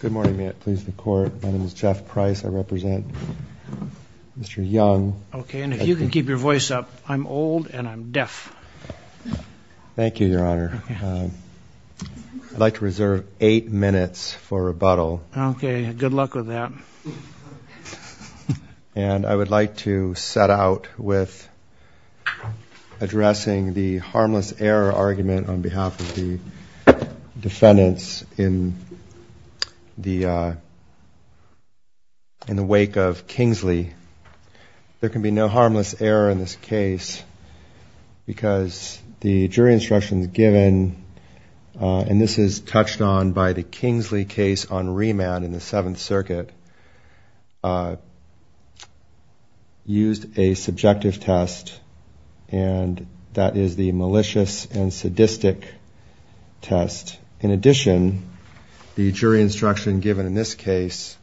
Good morning. May it please the court. My name is Jeff Price. I represent Mr. Young. OK. And if you can keep your voice up, I'm old and I'm deaf. Thank you, Your Honor. I'd like to reserve eight minutes for rebuttal. OK. Good luck with that. And I would like to set out with addressing the harmless error argument on behalf of the defendants in the wake of Kingsley. There can be no harmless error in this case because the jury instructions given, and this is touched on by the Kingsley case on remand in the Seventh Circuit, used a subjective test, and that is the malicious and sadistic test. In addition, the jury instruction given in this case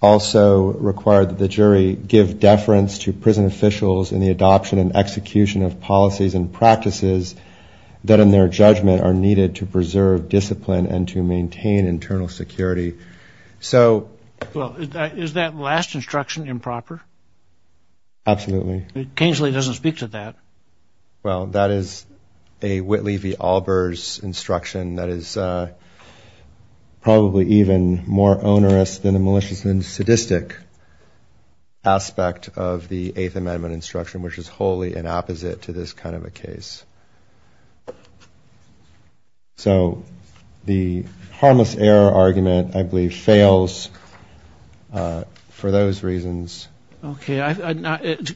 also required that the jury give deference to prison officials in the adoption and execution of policies and practices that, in their judgment, are needed to preserve discipline and to maintain internal security. Well, is that last instruction improper? Absolutely. Kingsley doesn't speak to that. Well, that is a Whitley v. Albers instruction that is probably even more onerous than the malicious and sadistic aspect of the Eighth Amendment instruction, which is wholly in opposite to this kind of a case. So the harmless error argument, I believe, fails for those reasons. OK.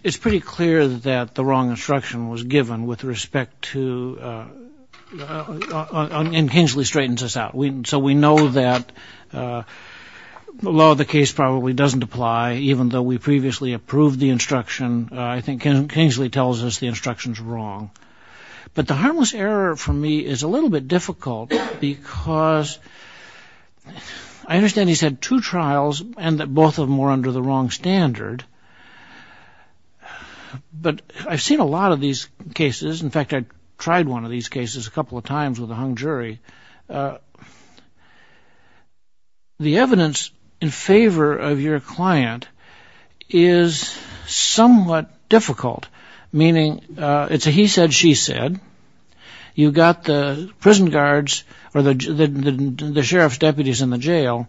It's pretty clear that the wrong instruction was given with respect to – and Kingsley straightens this out. So we know that the law of the case probably doesn't apply, even though we previously approved the instruction. I think Kingsley tells us the instruction's wrong. But the harmless error, for me, is a little bit difficult, because I understand he's had two trials, and both of them were under the wrong standard. But I've seen a lot of these cases – in fact, I tried one of these cases a couple of times with a hung jury. The evidence in favor of your client is somewhat difficult, meaning it's a he-said-she-said. You've got the prison guards, or the sheriff's deputies in the jail,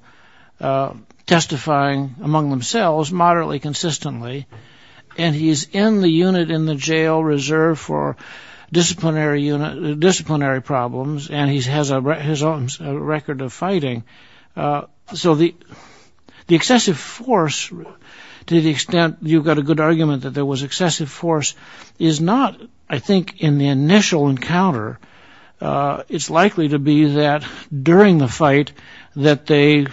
testifying among themselves moderately consistently, and he's in the unit in the jail reserved for disciplinary problems, and he's had two trials. He has a record of fighting. So the excessive force, to the extent you've got a good argument that there was excessive force, is not, I think, in the initial encounter. It's likely to be that during the fight that they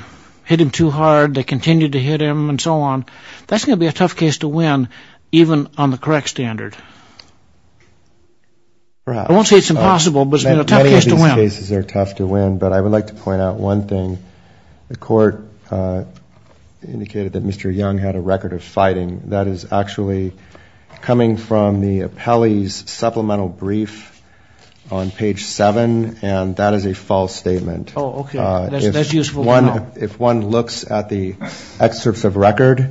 hit him too hard, they continued to hit him, and so on. That's going to be a tough case to win, even on the correct standard. I won't say it's impossible, but it's going to be a tough case to win. Many of these cases are tough to win, but I would like to point out one thing. The court indicated that Mr. Young had a record of fighting. That is actually coming from the appellee's supplemental brief on page 7, and that is a false statement. If one looks at the excerpts of record,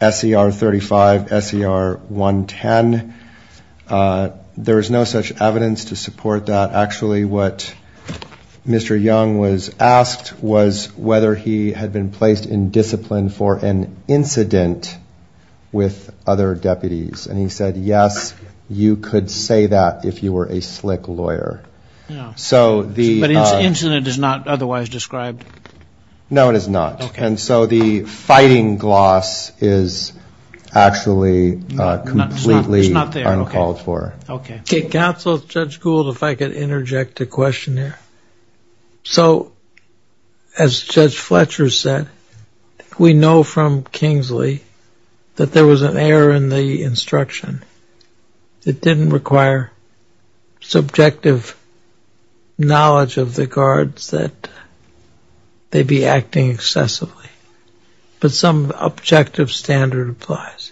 SCR 35, SCR 110, there is no such evidence to support that. Actually, what Mr. Young was asked was whether he had been placed in discipline for an incident with other deputies, and he said, yes, you could say that if you were a slick lawyer. But incident is not otherwise described? No, it is not, and so the fighting gloss is actually completely uncalled for. Counsel, Judge Gould, if I could interject a question here. So, as Judge Fletcher said, we know from Kingsley that there was an error in the instruction. It didn't require subjective knowledge of the guards that they be acting excessively, but some objective standard applies.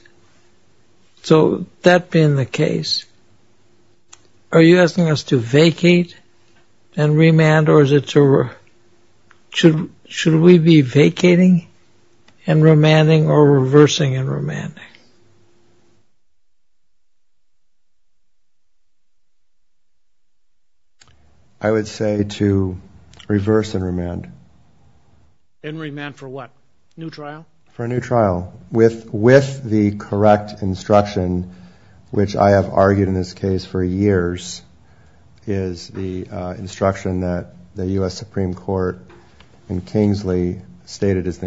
So, that being the case, are you asking us to vacate and remand, or should we be vacating and remanding or reversing and remanding? I would say to reverse and remand. And remand for what? New trial? For a new trial, with the correct instruction, which I have argued in this case for years, is the instruction that the U.S. Supreme Court in Kingsley stated is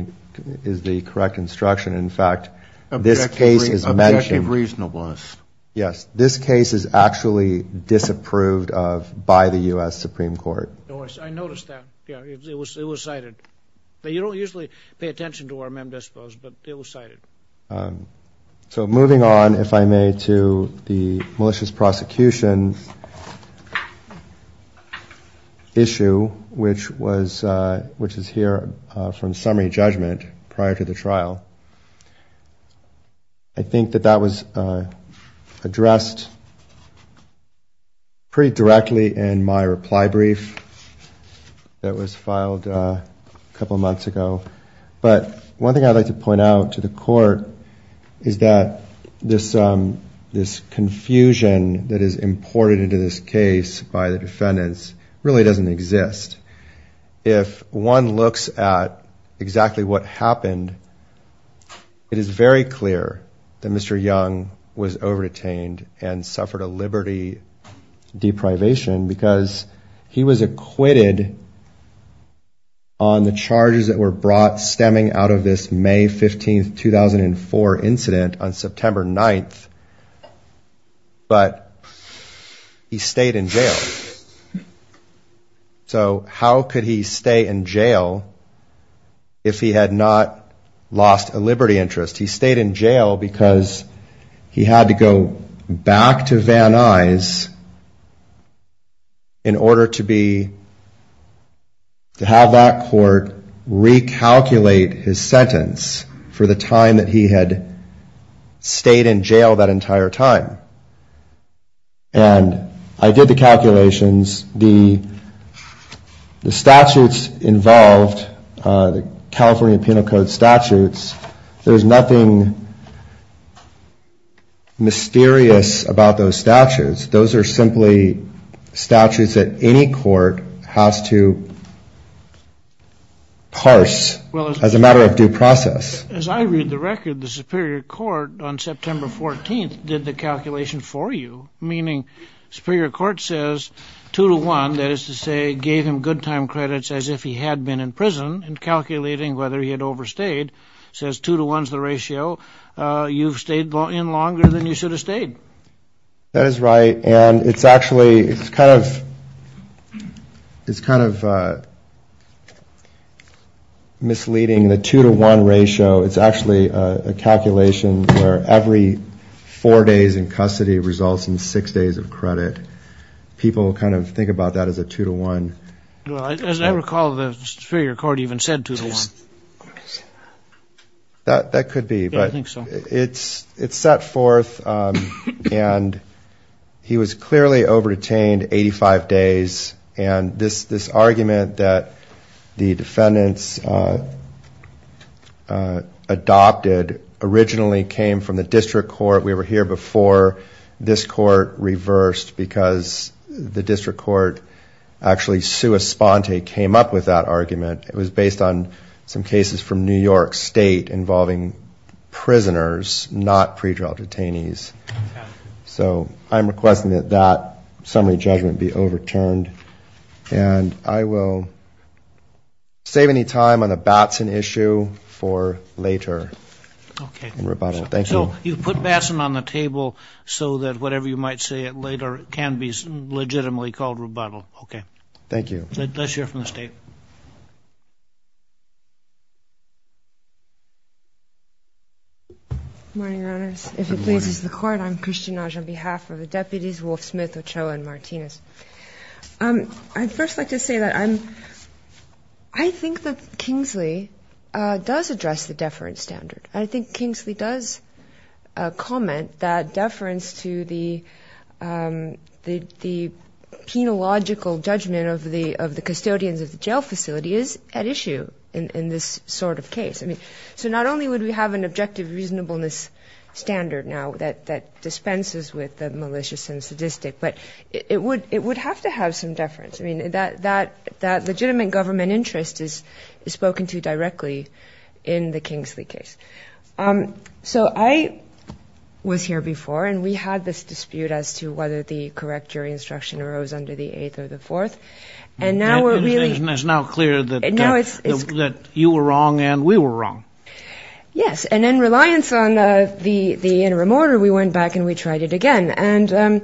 the correct instruction. In fact, this case is mentioned. Objective reasonableness. Yes, this case is actually disapproved of by the U.S. Supreme Court. I noticed that. It was cited. But you don't usually pay attention to where men dispose, but it was cited. So, moving on, if I may, to the malicious prosecution issue, which is here from summary judgment prior to the trial. I think that that was addressed pretty directly in my reply brief that was filed a couple months ago. But one thing I'd like to point out to the court is that this confusion that is imported into this case by the defendants really doesn't exist. If one looks at exactly what happened, it is very clear that Mr. Young was over-detained and suffered a liberty deprivation because he was acquitted on the charges that were brought against him. He was brought stemming out of this May 15, 2004 incident on September 9th. But he stayed in jail. So how could he stay in jail if he had not lost a liberty interest? He stayed in jail because he had to go back to Van Nuys in order to have that court recalculate his liberty. Calculate his sentence for the time that he had stayed in jail that entire time. And I did the calculations. The statutes involved, the California Penal Code statutes, there's nothing mysterious about those statutes. Those are simply statutes that any court has to parse. As a matter of due process. As I read the record, the Superior Court on September 14th did the calculation for you, meaning Superior Court says 2 to 1, that is to say, gave him good time credits as if he had been in prison, and calculating whether he had overstayed, says 2 to 1 is the ratio. You've stayed in longer than you should have stayed. That is right. And it's actually kind of misleading. The 2 to 1 ratio is actually a calculation where every four days in custody results in six days of credit. People kind of think about that as a 2 to 1. As I recall, the Superior Court even said 2 to 1. That could be, but it's set forth, and he was clearly over-detained 85 days. And this argument that the defendants adopted originally came from the District Court. We were here before this Court reversed because the District Court actually, sua sponte, came up with that argument. It was based on some cases from New York State involving prisoners, not pretrial detainees. So I'm requesting that that summary judgment be overturned, and I will save any time on the Batson issue for later in rebuttal. So you put Batson on the table so that whatever you might say later can be legitimately called rebuttal. Let's hear from the State. Good morning, Your Honors. I'd first like to say that I think that Kingsley does address the deference standard. I think Kingsley does comment that deference to the penalogical nature of the statute. I think that the penalogical judgment of the custodians of the jail facility is at issue in this sort of case. So not only would we have an objective reasonableness standard now that dispenses with the malicious and sadistic, but it would have to have some deference. I mean, that legitimate government interest is spoken to directly in the Kingsley case. So I was here before, and we had this dispute as to whether the correct jury instruction arose under the eighth or the fourth. And now we're really... It's now clear that you were wrong and we were wrong. Yes, and in reliance on the interim order, we went back and we tried it again. And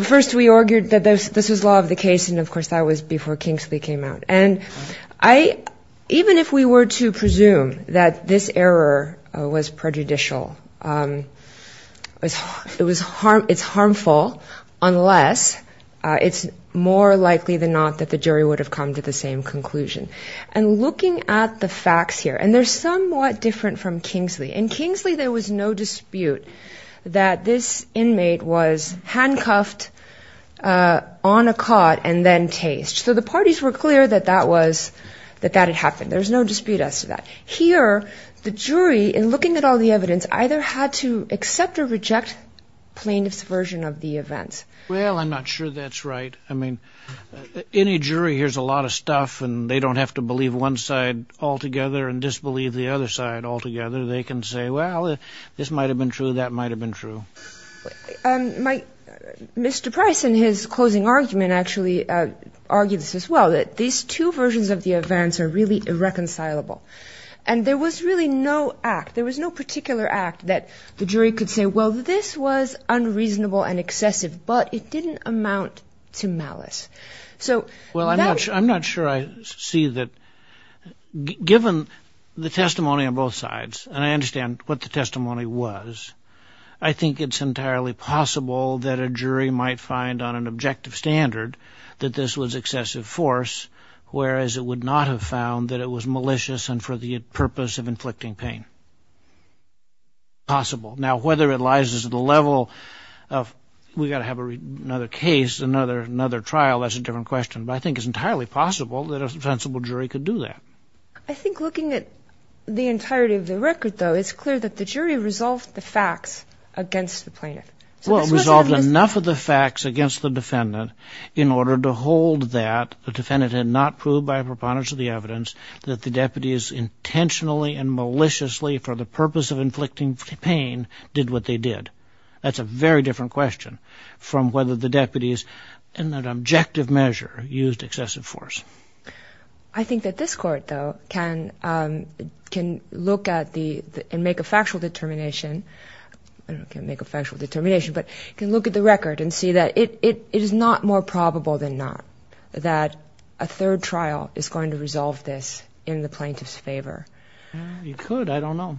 first we argued that this was law of the case, and, of course, that was before Kingsley came out. And even if we were to presume that this error was prejudicial, it's harmful, unless it's more of a judgmental nature. It's more likely than not that the jury would have come to the same conclusion. And looking at the facts here, and they're somewhat different from Kingsley. In Kingsley, there was no dispute that this inmate was handcuffed on a cot and then tased. So the parties were clear that that had happened. There was no dispute as to that. Here, the jury, in looking at all the evidence, either had to accept or reject plaintiff's version of the events. Well, I'm not sure that's right. I mean, any jury hears a lot of stuff, and they don't have to believe one side altogether and disbelieve the other side altogether. They can say, well, this might have been true, that might have been true. Mr. Price, in his closing argument, actually argues as well that these two versions of the events are really irreconcilable. And there was really no act, there was no particular act that the jury could say, well, this was unreasonable and excessive, but it didn't amount to malice. Well, I'm not sure I see that. Given the testimony on both sides, and I understand what the testimony was, I think it's entirely possible that a jury might find on an objective standard that this was excessive force, whereas it would not have found that it was malicious and for the purpose of inflicting pain. It's possible. Now, whether it lies at the level of, we've got to have another case, another trial, that's a different question. But I think it's entirely possible that a sensible jury could do that. I think looking at the entirety of the record, though, it's clear that the jury resolved the facts against the plaintiff. Well, it resolved enough of the facts against the defendant in order to hold that the defendant had not proved by a preponderance of the evidence that the deputies intentionally and maliciously, for the purpose of inflicting pain, did what they did. That's a very different question from whether the deputies, in an objective measure, used excessive force. I think that this Court, though, can look at and make a factual determination, but can look at the record and see that it is not more probable than not that a third trial is going to resolve this in the plaintiff's favor. It could. I don't know.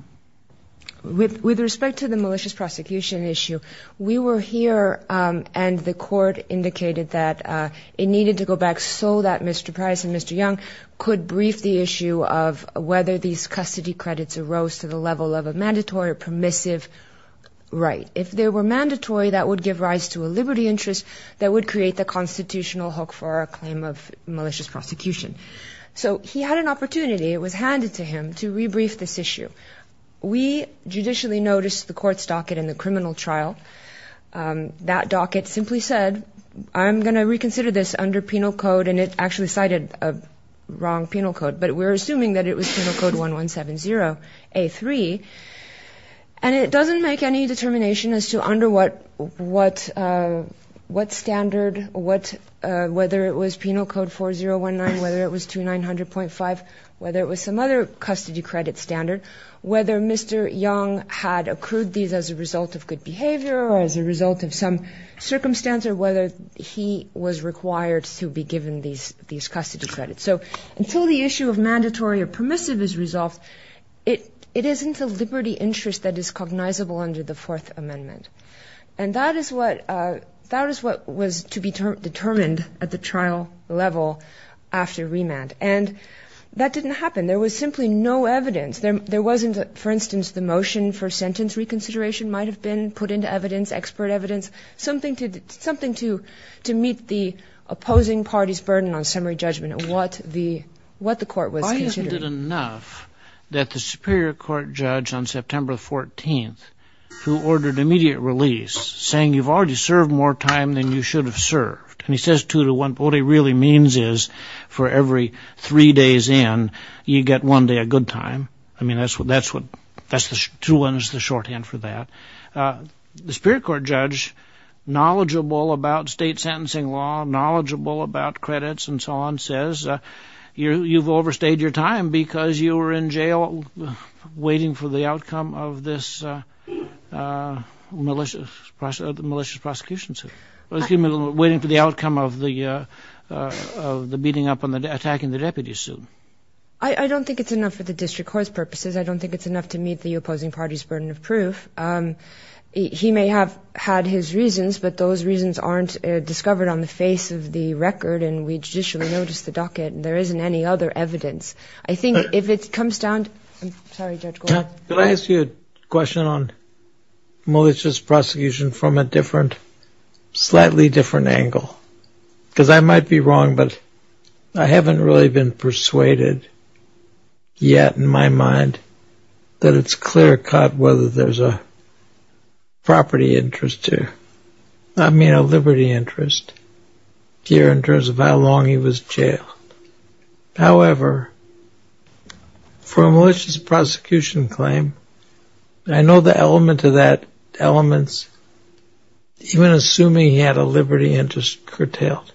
With respect to the malicious prosecution issue, we were here and the Court indicated that it needed to go back so that Mr. Price and Mr. Young could brief the issue of whether these custody credits arose to the level of a mandatory or permissive right. If they were mandatory, that would give rise to a liberty interest that would create the constitutional hook for a claim of malicious prosecution. So he had an opportunity, it was handed to him, to rebrief this issue. We judicially noticed the Court's docket in the criminal trial. That docket simply said, I'm going to reconsider this under penal code, and it actually cited a wrong penal code, but we're assuming that it was Penal Code 1170A3. And it doesn't make any determination as to under what standard, whether it was Penal Code 4019, whether it was 2900.5, whether it was some other custody credit standard, whether Mr. Young had accrued these as a result of good behavior or as a result of some circumstance or whether he was required to be given these custody credits. So until the issue of mandatory or permissive is resolved, it isn't a liberty interest that is cognizable under the Fourth Amendment. And that is what was to be determined at the trial level after remand. And that didn't happen. There was simply no evidence. There wasn't, for instance, the motion for sentence reconsideration might have been put into evidence, expert evidence, something to meet the opposing party's burden on summary judgment of what the Court was considering. I haven't heard enough that the Superior Court judge on September 14th, who ordered immediate release, saying you've already served more time than you should have served. And he says two to one, but what he really means is for every three days in, you get one day a good time. The Superior Court judge, knowledgeable about state sentencing law, knowledgeable about credits and so on, says you've overstayed your time because you were in jail waiting for the outcome of this malicious prosecution suit, waiting for the outcome of the beating up and attacking the deputy suit. I don't think it's enough for the district court's purposes. I don't think it's enough to meet the opposing party's burden of proof. He may have had his reasons, but those reasons aren't discovered on the face of the record and we judicially noticed the docket and there isn't any other evidence. Could I ask you a question on malicious prosecution from a slightly different angle? Because I might be wrong, but I haven't really been persuaded yet in my mind that it's clear-cut whether there's a property interest here, I mean a liberty interest here in terms of how long he was jailed. However, for a malicious prosecution claim, I know the elements, even assuming he had a liberty interest curtailed,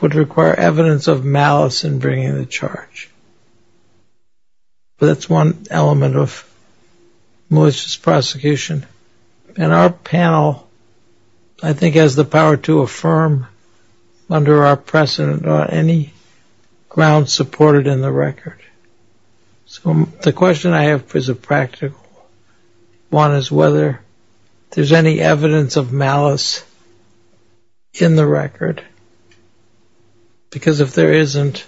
would require evidence of malice in bringing the charge. That's one element of malicious prosecution. And our panel, I think, has the power to affirm under our precedent on any grounds supported in the record. So the question I have is a practical one, is whether there's any evidence of malice in the record, because if there isn't,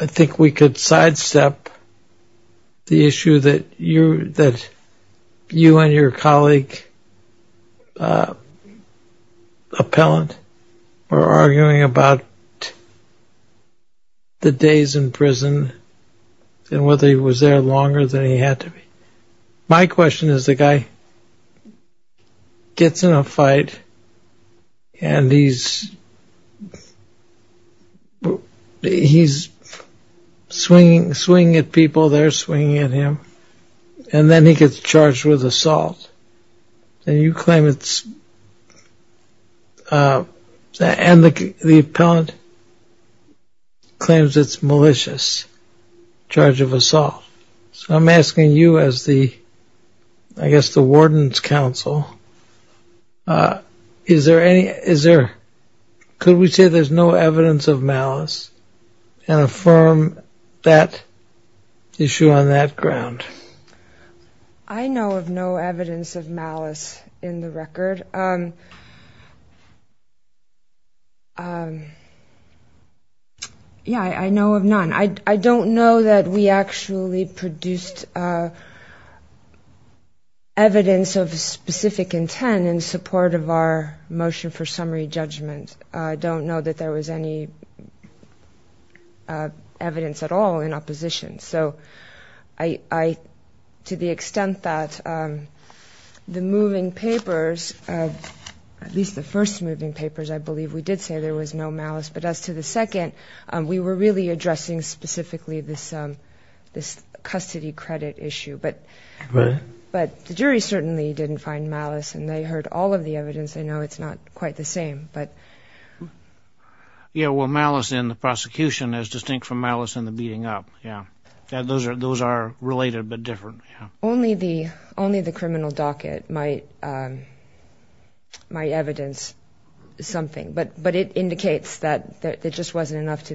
I think we could sidestep the issue that you and your colleague, appellant, were arguing about the days in prison and whether he was there longer than he had to be. My question is the guy gets in a fight and he's swinging at people, they're swinging at him, and then he gets charged with assault. And the appellant claims it's malicious charge of assault. So I'm asking you as the, I guess, the warden's counsel, could we say there's no evidence of malice and affirm that issue on that ground? I know of no evidence of malice in the record. Yeah, I know of none. I don't know that we actually produced evidence of specific intent in support of our motion for summary judgment. I don't know that there was any evidence at all in opposition. So to the extent that the moving papers, at least the first moving papers, I believe we did say there was no malice. But as to the second, we were really addressing specifically this custody credit issue. But the jury certainly didn't find malice, and they heard all of the evidence. Yeah, well, malice in the prosecution is distinct from malice in the beating up. Those are related but different. Only the criminal docket might evidence something, but it indicates that it just wasn't enough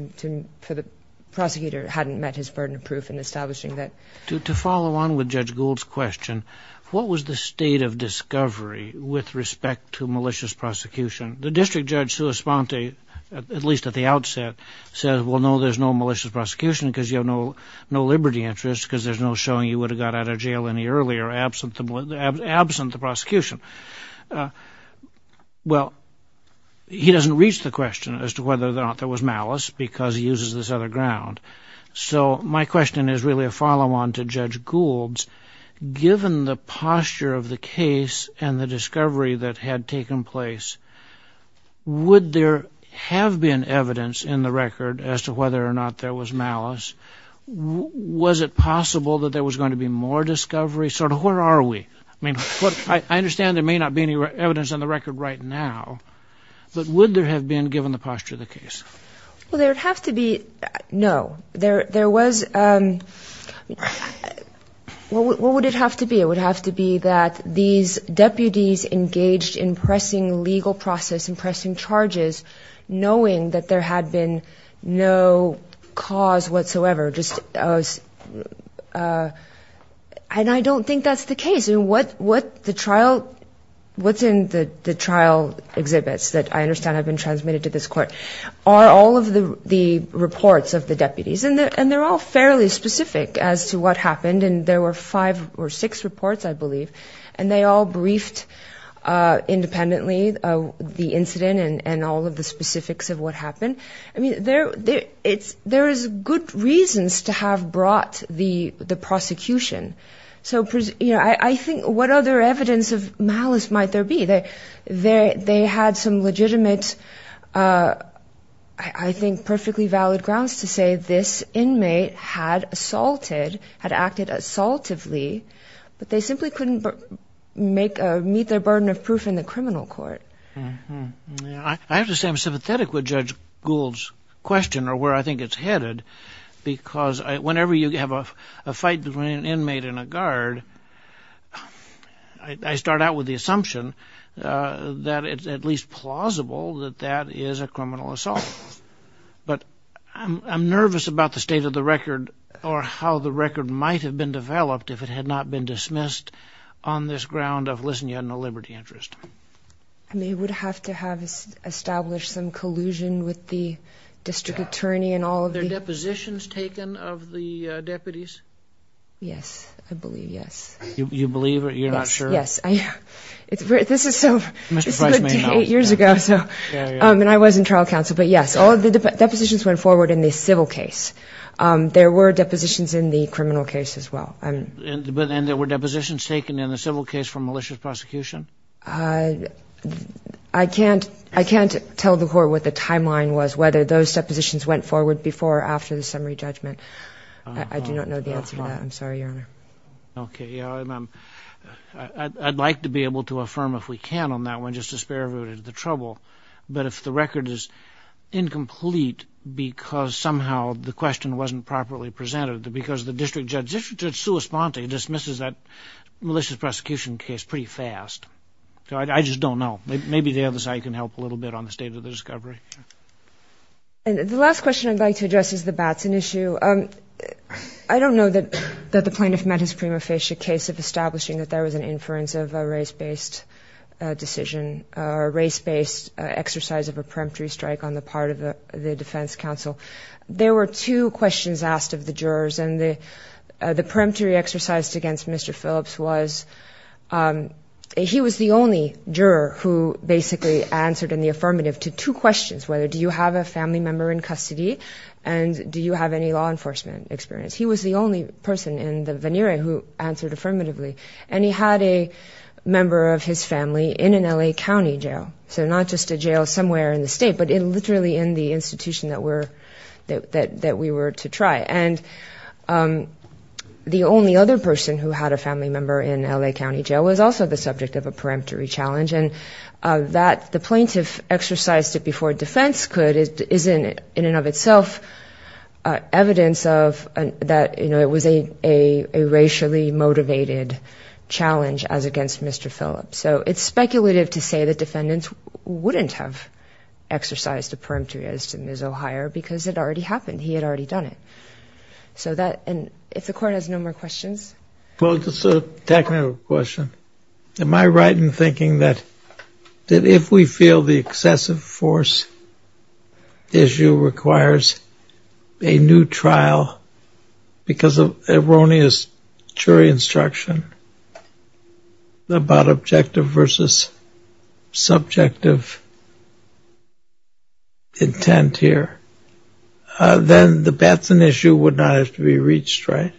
for the prosecutor or hadn't met his burden of proof in establishing that. To follow on with Judge Gould's question, what was the state of discovery with respect to malicious prosecution? The district judge, Sue Esponte, at least at the outset, said, well, no, there's no malicious prosecution because you have no liberty interest, because there's no showing you would have got out of jail any earlier absent the prosecution. Well, he doesn't reach the question as to whether or not there was malice because he uses this other ground. So my question is really a follow-on to Judge Gould's. Given the posture of the case and the discovery that had taken place, would there have been evidence in the record as to whether or not there was malice? Was it possible that there was going to be more discovery? Sort of where are we? I mean, I understand there may not be any evidence on the record right now, but would there have been given the posture of the case? Well, there would have to be, no. What would it have to be? It would have to be that these deputies engaged in pressing legal process and pressing charges knowing that there had been no cause whatsoever. And I don't think that's the case. What's in the trial exhibits that I understand have been transmitted to this court are all of the reports of the deputies, and they're all fairly specific as to what happened, and there were five or six reports, I believe, and they all briefed independently the incident and all of the specifics of what happened. I mean, there is good reasons to have brought the prosecution. I think what other evidence of malice might there be? They had some legitimate, I think, perfectly valid grounds to say this inmate had assaulted, had acted assaultively, but they simply couldn't meet their burden of proof in the criminal court. I have to say I'm sympathetic with Judge Gould's question, or where I think it's headed, because whenever you have a fight between an inmate and a guard, I start out with the assumption that it's at least plausible that that is a criminal assault. But I'm nervous about the state of the record or how the record might have been developed if it had not been dismissed on this ground of, listen, you had no liberty interest. I mean, it would have to have established some collusion with the district attorney and all of the... Were there depositions taken of the deputies? Yes, I believe, yes. You believe it? You're not sure? Yes. This is eight years ago, and I was in trial counsel, but yes, all the depositions went forward in the civil case. There were depositions in the criminal case as well. And there were depositions taken in the civil case for malicious prosecution? I can't tell the Court what the timeline was, whether those depositions went forward before or after the summary judgment. I do not know the answer to that. I'm sorry, Your Honor. Okay. I'd like to be able to affirm, if we can, on that one, just to spare everybody the trouble. But if the record is incomplete because somehow the question wasn't properly presented, because the district judge, just to respond to it, dismisses that malicious prosecution case pretty fast. I just don't know. Maybe the other side can help a little bit on the state of the discovery. The last question I'd like to address is the Batson issue. I don't know that the plaintiff met his prima facie case of establishing that there was an inference of a race-based decision or a race-based exercise of a peremptory strike on the part of the defense counsel. There were two questions asked of the jurors, and the peremptory exercise against Mr. Phillips was he was the only juror who basically answered in the affirmative to two questions, whether do you have a family member in custody and do you have any law enforcement experience. He was the only person in the veneer who answered affirmatively, and he had a member of his family in an L.A. county jail, so not just a jail somewhere in the state, but literally in the institution that we were to try. And the only other person who had a family member in L.A. county jail was also the subject of a peremptory challenge, and that the plaintiff exercised it before defense could is in and of itself evidence of that it was a racially motivated challenge as against Mr. Phillips. So it's speculative to say that defendants wouldn't have exercised a peremptory as to Ms. O'Hire because it already happened. He had already done it. And if the court has no more questions. Well, just a technical question. Am I right in thinking that if we feel the excessive force issue requires a new trial because of erroneous jury instruction about objective versus subjective intent here, then the Batson issue would not have to be reached, right?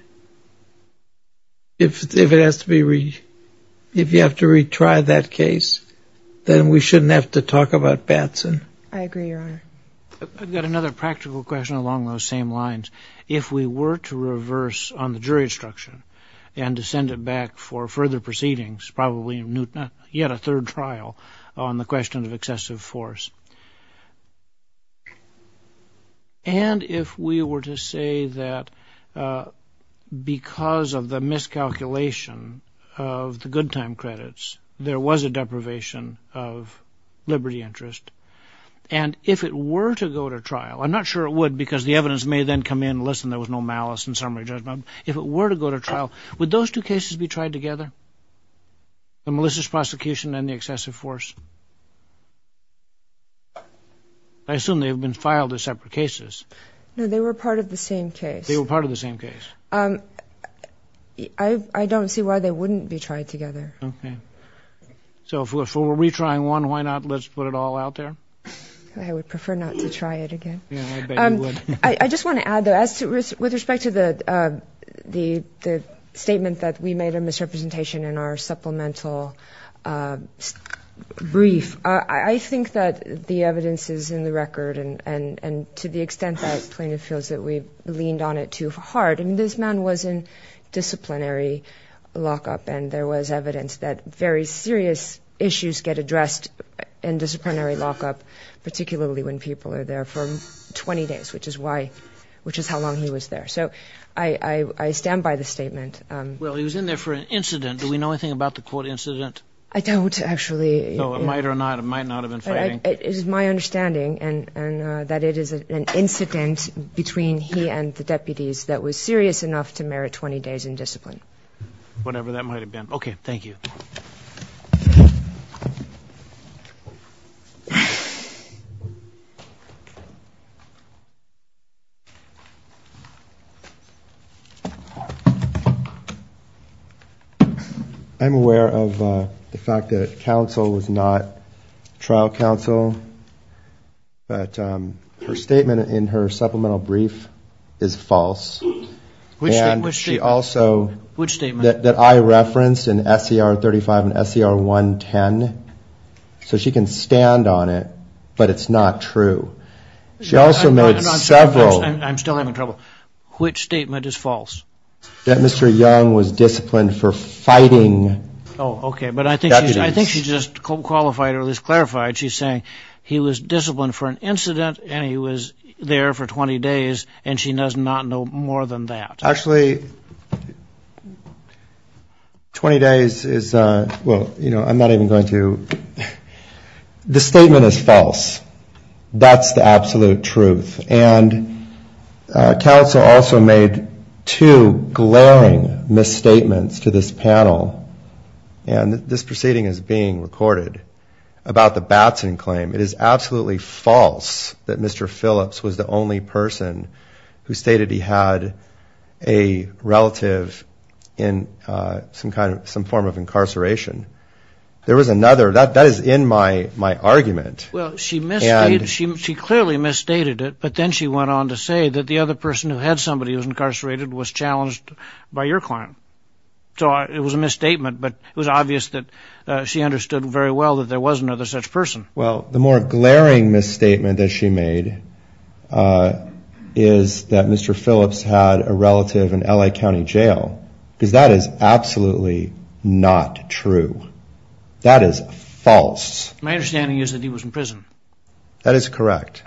If you have to retry that case, then we shouldn't have to talk about Batson. I agree, Your Honor. I've got another practical question along those same lines. If we were to reverse on the jury instruction and to send it back for further proceedings, probably yet a third trial on the question of excessive force, and if we were to say that because of the miscalculation of the good time credits, there was a deprivation of liberty interest, and if it were to go to trial, I'm not sure it would because the evidence may then come in, listen, there was no malice in summary judgment, if it were to go to trial, would those two cases be tried together, the malicious prosecution and the excessive force? I assume they have been filed as separate cases. No, they were part of the same case. They were part of the same case. I don't see why they wouldn't be tried together. Okay. So if we're retrying one, why not let's put it all out there? I would prefer not to try it again. I just want to add, though, with respect to the statement that we made a misrepresentation in our supplemental brief, I think that the evidence is in the record and to the extent that plaintiff feels that we've leaned on it too hard. This man was in disciplinary lockup, and there was evidence that very serious issues get addressed in disciplinary lockup, particularly when people are there for 20 days, which is how long he was there. So I stand by the statement. Well, he was in there for an incident. Do we know anything about the court incident? I don't, actually. It is my understanding that it is an incident between he and the deputies that was serious enough to merit 20 days in discipline. Whatever that might have been. Okay. Thank you. I'm aware of the fact that counsel was not trial counsel, but her statement in her supplemental brief is false. Which statement? She also, that I referenced in SCR 35 and SCR 110, so she can stand on it, but it's not true. She also made several. I'm still having trouble. Which statement is false? That Mr. Young was disciplined for fighting deputies. Oh, okay. But I think she just qualified or at least clarified. She's saying he was disciplined for an incident, and he was there for 20 days, and she does not know more than that. Actually, 20 days is, well, you know, I'm not even going to. The statement is false. That's the absolute truth. And counsel also made two glaring misstatements to this panel. And this proceeding is being recorded about the Batson claim. It is absolutely false that Mr. Phillips was the only person who stated he had a relative in some kind of some form of incarceration. There was another. That is in my argument. She clearly misstated it, but then she went on to say that the other person who had somebody who was incarcerated was challenged by your client. So it was a misstatement, but it was obvious that she understood very well that there was another such person. Well, the more glaring misstatement that she made is that Mr. Phillips had a relative in L.A. County Jail, because that is absolutely not true. That is false. My understanding is that he was in prison. That is correct.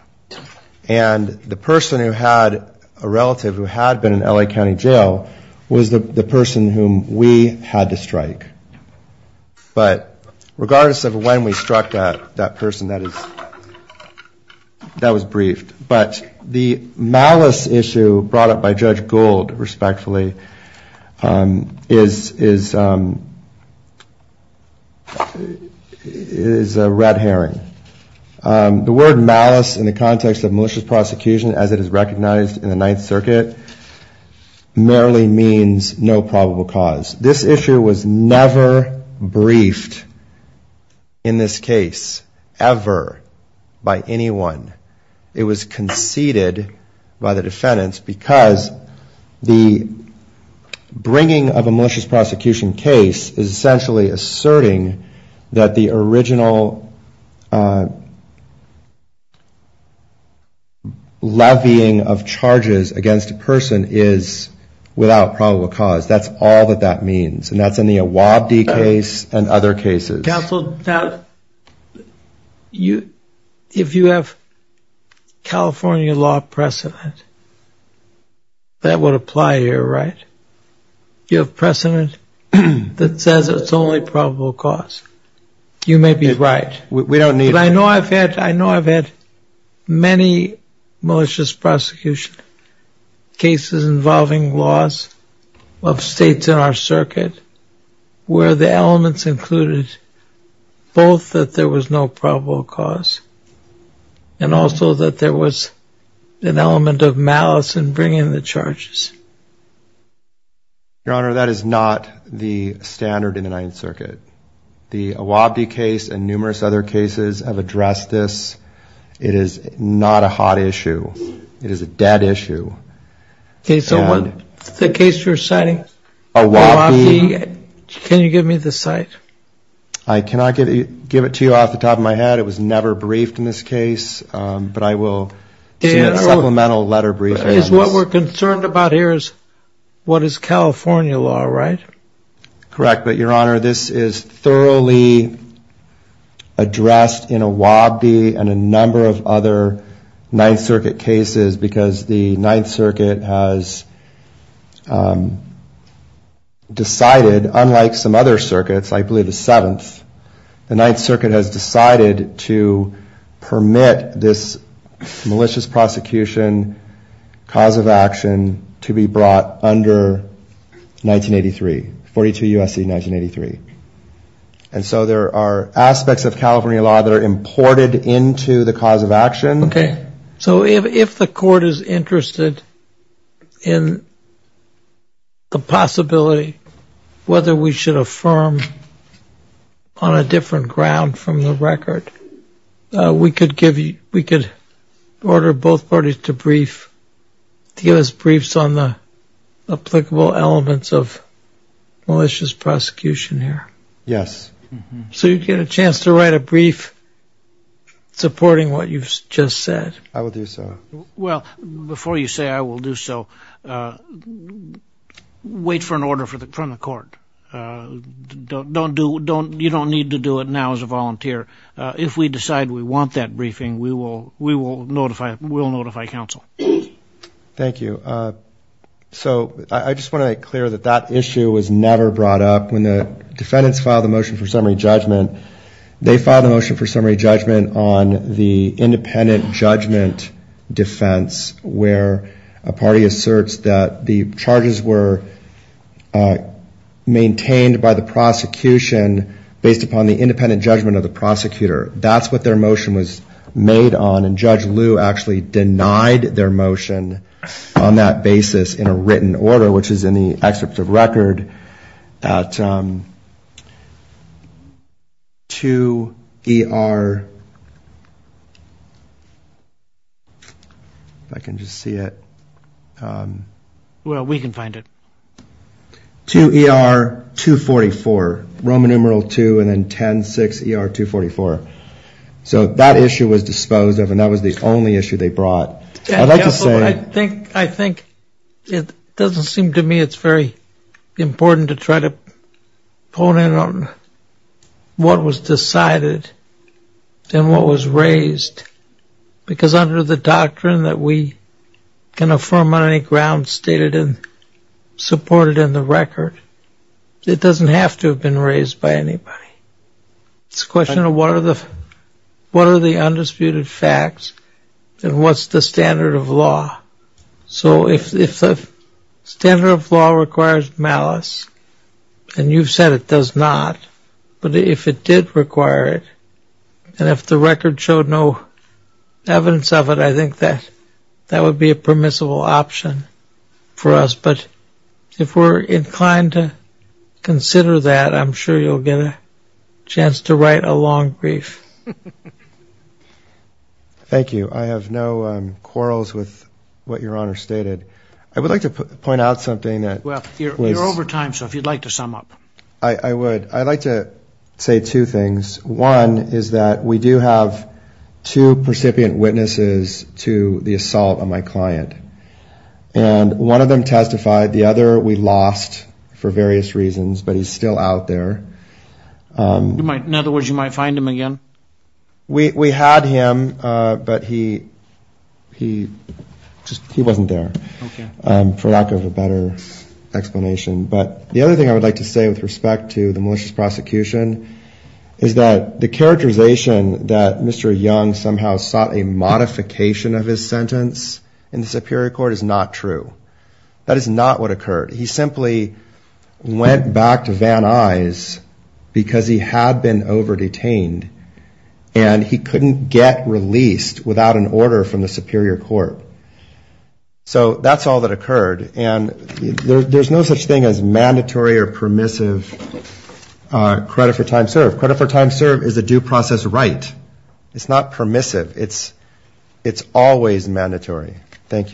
And the person who had a relative who had been in L.A. County Jail was the person whom we had to strike. But regardless of when we struck that person, that was briefed. But the malice issue brought up by Judge Gould, respectfully, is a red herring. The word malice in the context of malicious prosecution, as it is recognized in the Ninth Circuit, merely means no probable cause. This issue was never briefed in this case, ever, by anyone. It was conceded by the defendants, because the bringing of a malicious prosecution case is essentially asserting that the original, levying of charges against a person is without probable cause. That's all that that means. And that's in the Awabdi case and other cases. Counsel, if you have California law precedent, that would apply here, right? You have precedent that says it's only probable cause. You may be right. But I know I've had many malicious prosecution cases involving laws of states in our circuit, where the elements included both that there was no probable cause, and also that there was an element of malice in bringing the charges. Your Honor, that is not the standard in the Ninth Circuit. The Awabdi case and numerous other cases have addressed this. It is not a hot issue. It is a dead issue. So the case you're citing, Awabdi, can you give me the site? I cannot give it to you off the top of my head. It was never briefed in this case, but I will send a supplemental letter briefing. What we're concerned about here is what is California law, right? Correct. But, Your Honor, this is thoroughly addressed in Awabdi and a number of other Ninth Circuit cases, because the Ninth Circuit has decided, unlike some other circuits, I believe the Seventh, the Ninth Circuit has decided to permit this malicious prosecution cause of action to be brought under 1983, 42 U.S.C. 1983. And so there are aspects of California law that are imported into the cause of action. Okay. So if the court is interested in the possibility whether we should affirm on a different ground from the record, we could order both parties to give us briefs on the applicable elements of malicious prosecution here. Yes. I will do so. Well, before you say I will do so, wait for an order from the court. You don't need to do it now as a volunteer. If we decide we want that briefing, we will notify counsel. Thank you. So I just want to make clear that that issue was never brought up. When the defendants filed the motion for summary judgment, they filed a motion for summary judgment on the independent judgment defense, where a party asserts that the charges were maintained by the prosecution based upon the independent judgment of the prosecutor. That's what their motion was made on. And they did that on that basis in a written order, which is in the excerpt of record at 2ER. If I can just see it. Well, we can find it. 2ER.244, Roman numeral 2 and then 10.6ER.244. So that issue was disposed of and that was the only issue they brought. I'd like to say I think it doesn't seem to me it's very important to try to pull in on what was decided and what was raised. Because under the doctrine that we can affirm on any ground stated and supported in the record, it doesn't have to have been raised by anybody. It's a question of what are the undisputed facts and what's the standard of law. So if the standard of law requires malice, and you've said it does not, but if it did require it, and if the record showed no evidence of it, I think that that would be a permissible option for us. But if we're inclined to consider that, I'm sure you'll get a chance to write a long brief. Thank you. I have no quarrels with what Your Honor stated. I would like to point out something. Well, you're over time, so if you'd like to sum up. I would. I'd like to say two things. One is that we do have two percipient witnesses to the assault on my client. And one of them testified, the other we lost for various reasons, but he's still out there. In other words, you might find him again? We had him, but he wasn't there, for lack of a better explanation. But the other thing I would like to say with respect to the malicious prosecution is that the characterization that Mr. Young somehow sought a modification of his sentence in the Superior Court is not true. That is not what occurred. He simply went back to Van Nuys because he had been over-detained, and he couldn't get released without an order from the Superior Court. So that's all that occurred, and there's no such thing as mandatory or permissive credit for time served. Credit for time served is a due process right. It's not permissive. It's always mandatory. Thank you.